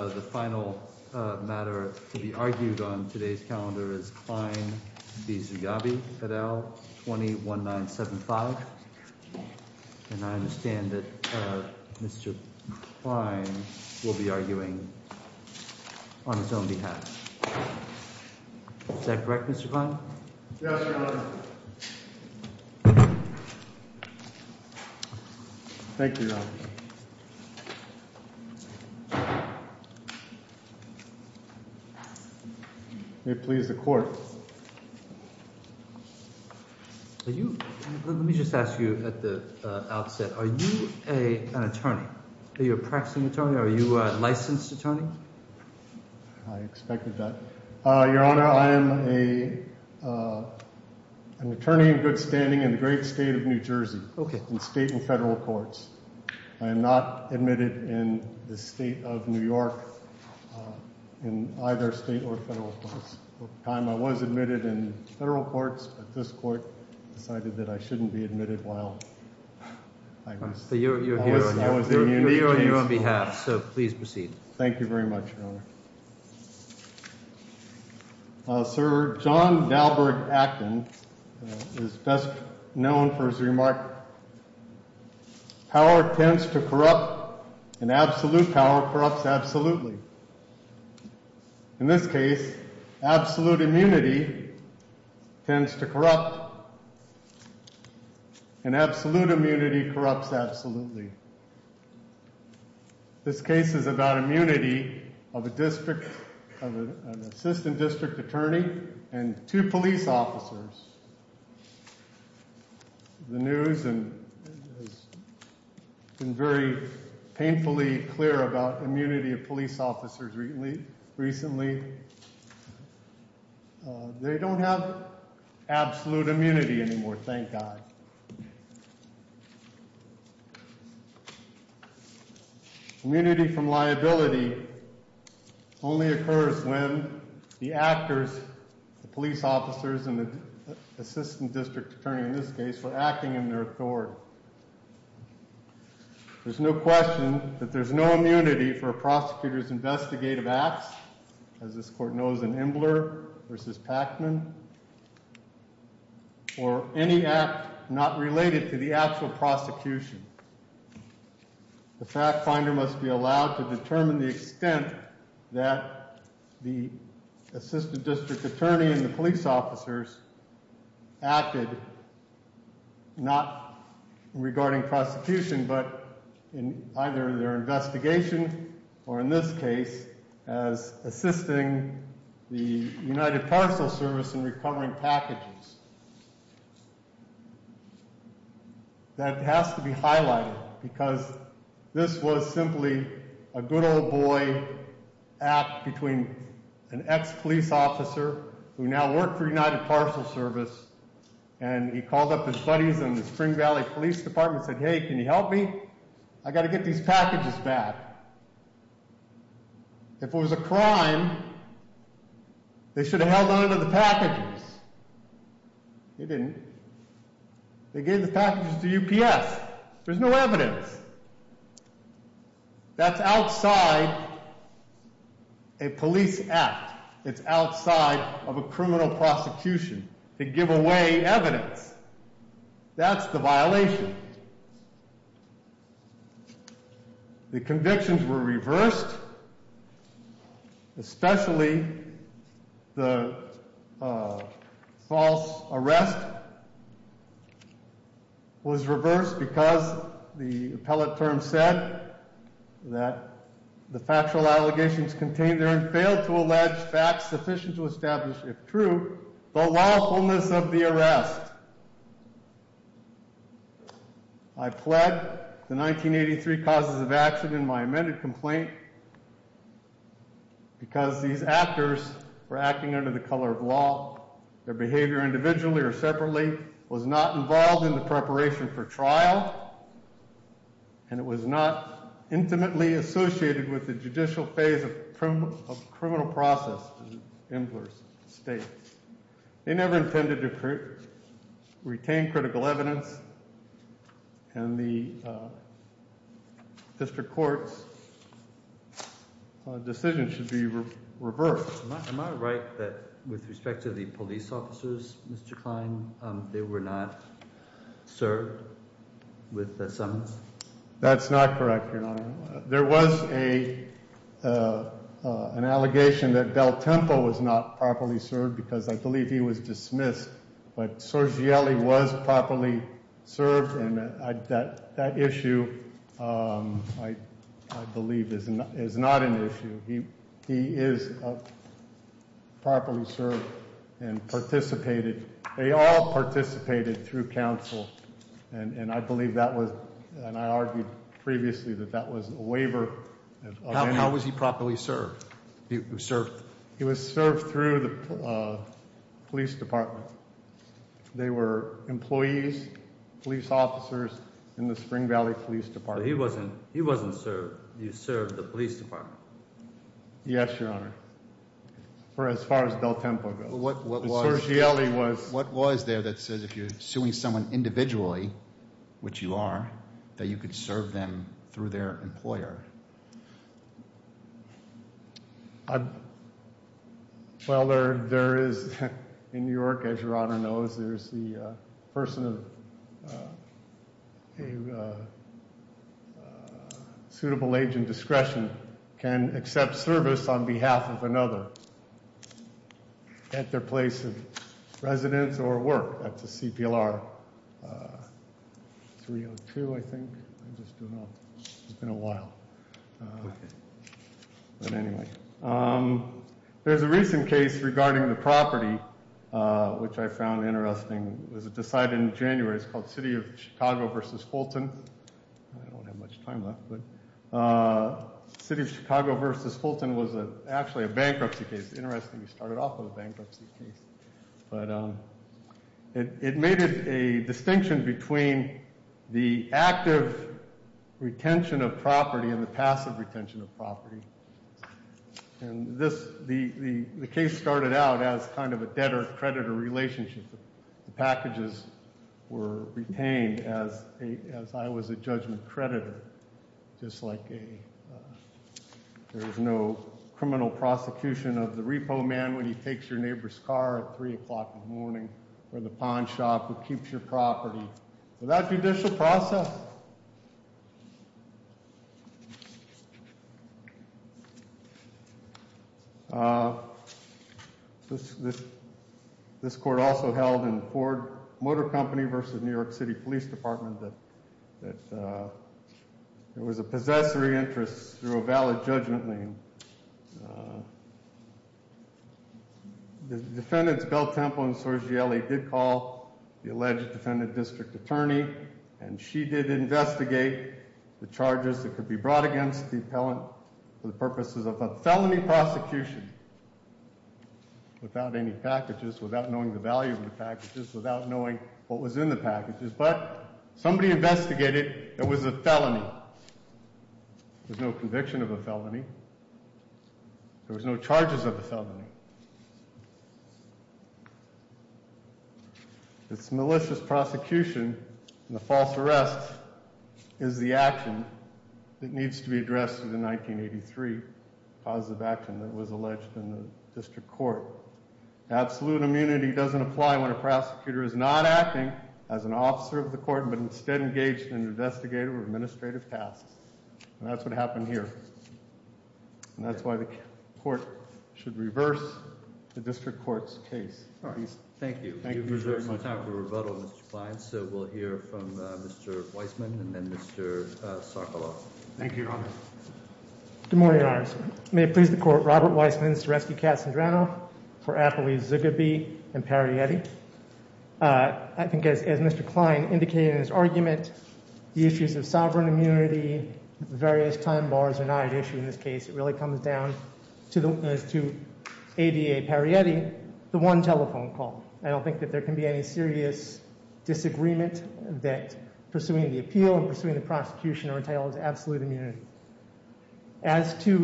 The final matter to be argued on today's calendar is Klein v. Zougabi et al. 201975. And I understand that Mr. Klein will be arguing on his own behalf. Is that correct, Mr. Klein? Yes, Your Honor. Thank you, Your Honor. May it please the Court. Let me just ask you at the outset, are you an attorney? Are you a practicing attorney? Are you a licensed attorney? I expected that. Your Honor, I am an attorney in good standing in the great state of New Jersey, in state and federal courts. I am not admitted in the state of New York in either state or federal courts. Over time, I was admitted in federal courts, but this Court decided that I shouldn't be admitted while I was in the union. We are on your behalf, so please proceed. Thank you very much, Your Honor. Sir, John Dahlberg Acton is best known for his remark, power tends to corrupt and absolute power corrupts absolutely. In this case, absolute immunity tends to corrupt and absolute immunity corrupts absolutely. This case is about immunity of an assistant district attorney and two police officers. The news has been very painfully clear about immunity of police officers recently. They don't have absolute immunity anymore, thank God. Immunity from liability only occurs when the actors, the police officers, and the assistant district attorney in this case were acting in their authority. There's no question that there's no immunity for a prosecutor's investigative acts, as this Court knows in Imbler v. Packman, or any act not related to the actual prosecution. The fact finder must be allowed to determine the extent that the assistant district attorney and the police officers acted, not regarding prosecution, but in either their investigation, or in this case, as assisting the United Parcel Service in recovering packages. That has to be highlighted, because this was simply a good old boy act between an ex-police officer, who now worked for United Parcel Service, and he called up his buddies in the Spring Valley Police Department and said, hey, can you help me? I gotta get these packages back. If it was a crime, they should have held on to the packages. They didn't. They gave the packages to UPS. There's no evidence. That's outside a police act. It's outside of a criminal prosecution to give away evidence. That's the violation. The convictions were reversed, especially the false arrest was reversed because the appellate term said that the factual allegations contained therein failed to allege facts sufficient to establish, if true, the lawfulness of the arrest. I pled the 1983 causes of action in my amended complaint because these actors were acting under the color of law. Their behavior, individually or separately, was not involved in the preparation for trial, and it was not intimately associated with the judicial phase of criminal process in the state. They never intended to retain critical evidence, and the district court's decision should be reversed. Am I right that with respect to the police officers, Mr. Klein, they were not served with the summons? That's not correct, your honor. There was an allegation that Del Tempo was not properly served because I believe he was dismissed, but Sergieli was properly served, and that issue, I believe, is not an issue. He is properly served and participated. They all participated through counsel, and I believe and I argued previously that that was a waiver. How was he properly served? He was served through the police department. They were employees, police officers in the Spring Valley Police Department. But he wasn't served. He served the police department. Yes, your honor, for as far as Del Tempo goes. What was there that says if you're suing someone individually, which you are, that you could serve them through their employer? Well, there is in New York, as your honor knows, there's the person of a suitable age and discretion can accept service on behalf of another at their place of residence or work at the CPLR. 302, I think. I just don't know. It's been a while. But anyway, there's a recent case regarding the property, which I found interesting. It was decided in January. It's called City of Chicago v. Fulton. I don't have much time left, but City of Chicago v. Fulton was actually a bankruptcy case. Interestingly, we started off with a bankruptcy case. But it made it a distinction between the active retention of property and the passive retention of property. And the case started out as kind of a debtor-creditor relationship. The packages were retained as I was a judgment creditor, just like there was no criminal prosecution of the repo man when he takes your neighbor's car at 3 o'clock in the morning or the pawn shop who New York City Police Department that there was a possessory interest through a valid judgment. The defendants, Bell Temple and Sorgielli, did call the alleged defendant district attorney, and she did investigate the charges that could be brought against the appellant for the purposes of a felony prosecution without any packages, without knowing the value of the what was in the packages. But somebody investigated it was a felony. There's no conviction of a felony. There was no charges of a felony. It's malicious prosecution and the false arrest is the action that needs to be addressed in 1983, cause of action that was alleged in the district court. Absolute immunity doesn't apply when a officer of the court, but instead engaged in investigative or administrative tasks. And that's what happened here. And that's why the court should reverse the district court's case. Thank you. Thank you. So we'll hear from Mr. Weissman and then Mr. Sarkaloff. Thank you. Good morning. May it please the court. Robert Weissman's to rescue Cassandra for Applebee and Perrietti. I think, as Mr. Klein indicated in his argument, the issues of sovereign immunity, various time bars are not an issue in this case. It really comes down to ADA Perrietti, the one telephone call. I don't think that there can be any serious disagreement that pursuing the appeal and pursuing the prosecution are entitled to absolute immunity. As to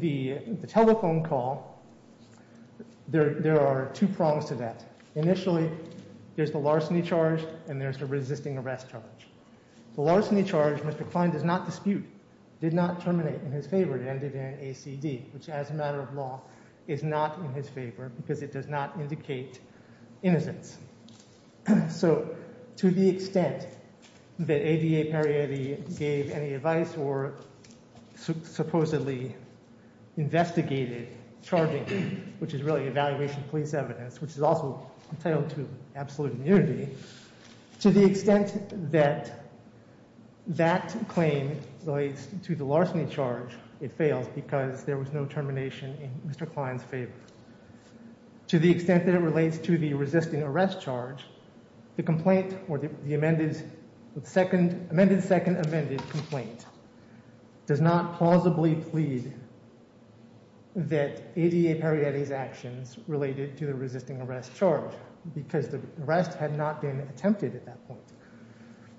the telephone call, there are two prongs to that. Initially, there's the larceny charge and there's a resisting arrest charge. The larceny charge, Mr. Klein does not dispute, did not terminate in his favor, it ended in ACD, which as a matter of law is not in his favor because it does not indicate innocence. So to the extent that ADA Perrietti gave any advice or supposedly investigated charging him, which is really evaluation of police evidence, which is also entitled to absolute immunity, to the extent that that claim relates to the larceny charge, it fails because there was no termination in Mr. Klein's favor. To the extent that it relates to the resisting arrest charge, the complaint or the amended second amended complaint does not plausibly plead that ADA Perrietti's actions related to the resisting arrest charge because the arrest had not been attempted at that point.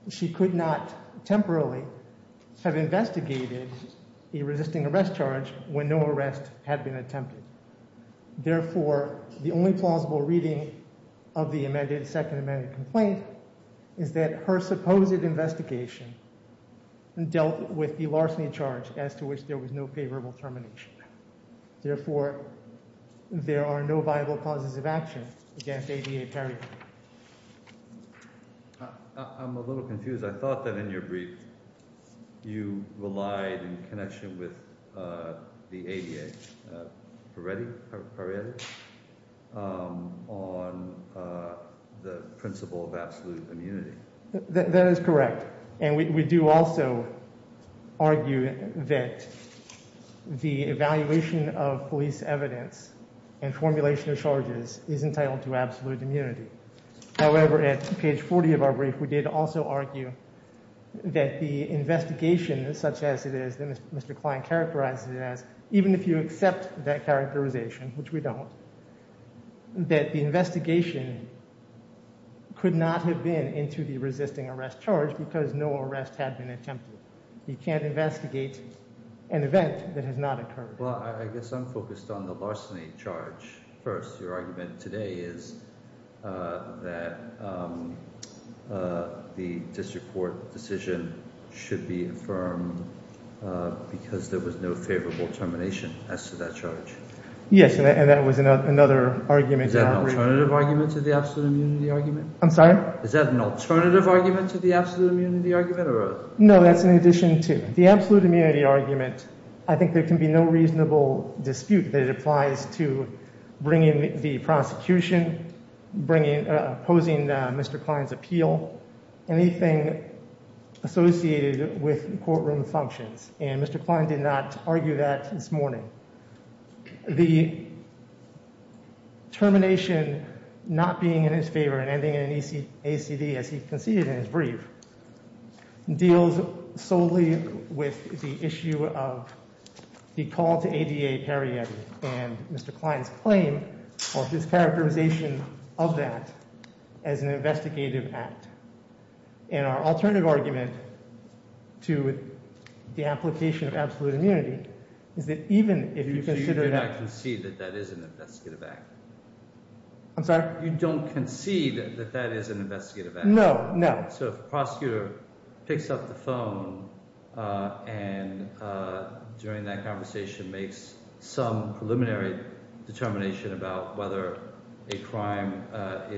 She could not temporarily have investigated a resisting arrest charge when no arrest had been attempted. Therefore, the only plausible reading of the amended second amended complaint is that her supposed investigation and dealt with the larceny charge as to which there was no favorable termination. Therefore, there are no viable causes of action against ADA Perrietti. I'm a little confused. I thought that in your brief you relied in connection with the ADA Perrietti on the principle of absolute immunity. That is correct. And we do also argue that the evaluation of police evidence and formulation of charges is entitled to absolute immunity. However, at page 40 of our brief, we did also argue that the investigation, such as it is that Mr. Klein characterized it as, even if you accept that characterization, which we don't, that the investigation could not have been into the resisting arrest charge because no arrest had been attempted. You can't investigate an event that has not occurred. Well, I guess I'm focused on the larceny charge first. Your argument today is that the district court decision should be affirmed because there was no favorable termination as to that charge. Yes, and that was another argument. Is that an alternative argument to the absolute immunity argument? I'm sorry? Is that an alternative argument to the absolute immunity argument? No, that's in addition to the absolute immunity argument. I think there can be no prosecution posing Mr. Klein's appeal, anything associated with courtroom functions. And Mr. Klein did not argue that this morning. The termination not being in his favor and ending in an ACD, as he conceded in his brief, deals solely with the issue of the call to ADA Perrietti and Mr. Klein's claim, or his characterization of that as an investigative act. And our alternative argument to the application of absolute immunity is that even if you consider that... So you do not concede that that is an investigative act? I'm sorry? You don't concede that that is an investigative act? No, no. So if the prosecutor picks up the phone and during that conversation makes some preliminary determination about whether a crime may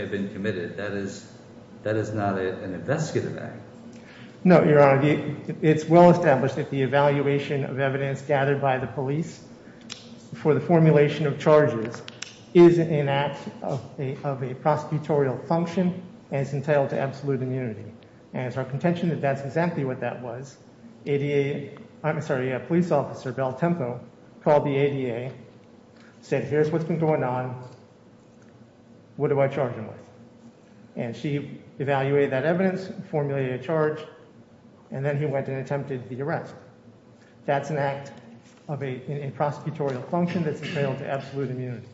have been committed, that is that is not an investigative act? No, Your Honor. It's well established that the evaluation of evidence gathered by the police for the formulation of charges is an act of a prosecutorial function and it's entitled to absolute immunity. And it's our contention that that's exactly what that was. ADA, I'm sorry, a police officer, Belle Tempo, called the ADA, said here's what's been going on, what do I charge him with? And she evaluated that evidence, formulated a charge, and then he went and attempted the arrest. That's an act of a prosecutorial function that's entailed to absolute immunity.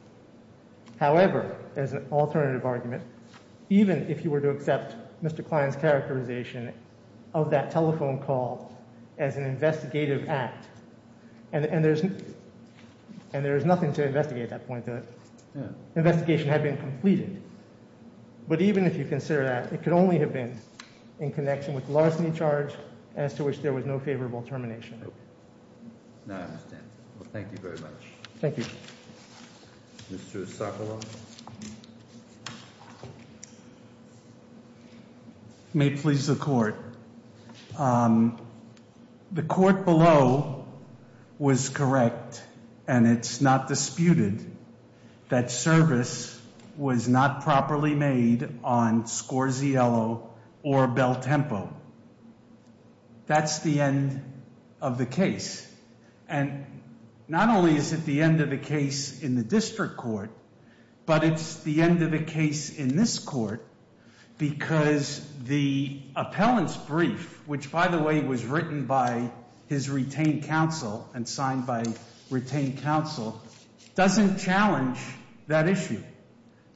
However, as an alternative argument, even if you were to accept Mr. Klein's characterization of that telephone call as an investigative act, and there's nothing to investigate that point, the investigation had been completed. But even if you consider that, it could only have been in connection with larceny charge as to which there was no favorable termination. Okay, now I understand. Well, thank you very much. Thank you. Mr. Esocolo. May it please the court. The court below was correct and it's not disputed that service was not properly made on Scorziello or Belle Tempo. That's the end of the case. And not only is it the end of the case in the district court, but it's the end of the case in this court because the appellant's brief, which by the way, was written by his retained counsel and signed by retained counsel, doesn't challenge that issue.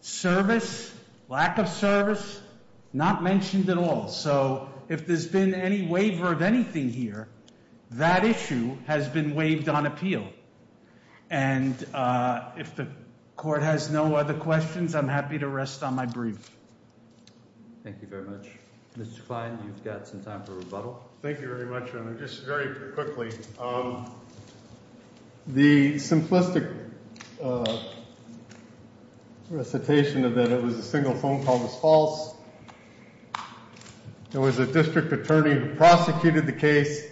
Service, lack of service, not mentioned at all. So if there's been any waiver of anything here, that issue has been waived on appeal. And if the court has no other questions, I'm happy to rest on my brief. Thank you very much. Mr. Klein, you've got some time for rebuttal. Thank you very much, Madam. Just very quickly. The simplistic recitation of that it was a single phone call was false. There was a district attorney who prosecuted the case,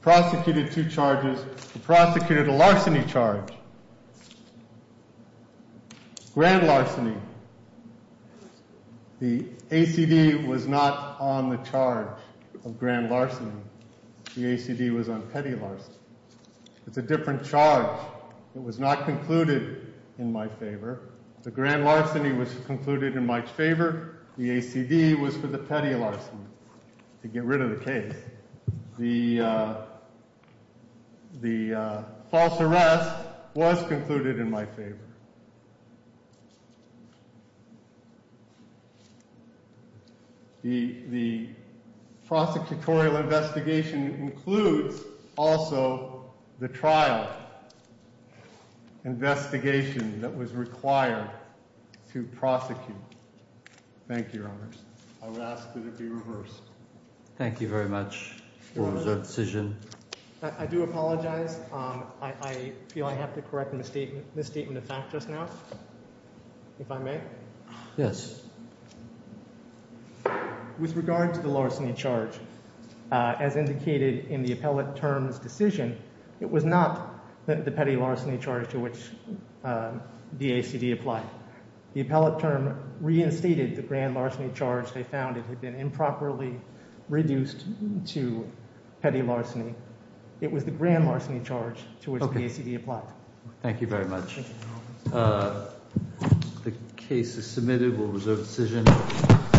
prosecuted two charges, prosecuted a larceny charge. Grand larceny. The ACD was not on the charge of grand larceny. The ACD was on petty larceny. It's a different charge. It was not concluded in my favor. The grand larceny was concluded in my favor. The ACD was for the petty larceny. To get rid of the case. The false arrest was concluded in my favor. The prosecutorial investigation includes also the trial investigation that was required to prosecute. Thank you, Your Honors. I would ask that it be reversed. Thank you very much for the decision. I do apologize. I feel I have to correct the misstatement of fact just now, if I may. Yes. With regard to the larceny charge, as indicated in the appellate term's decision, it was not the petty larceny charge to which the ACD applied. The appellate term reinstated the grand larceny charge they found it had been improperly reduced to petty larceny. It was the grand larceny charge. Thank you very much. The case is submitted. We'll reserve the decision.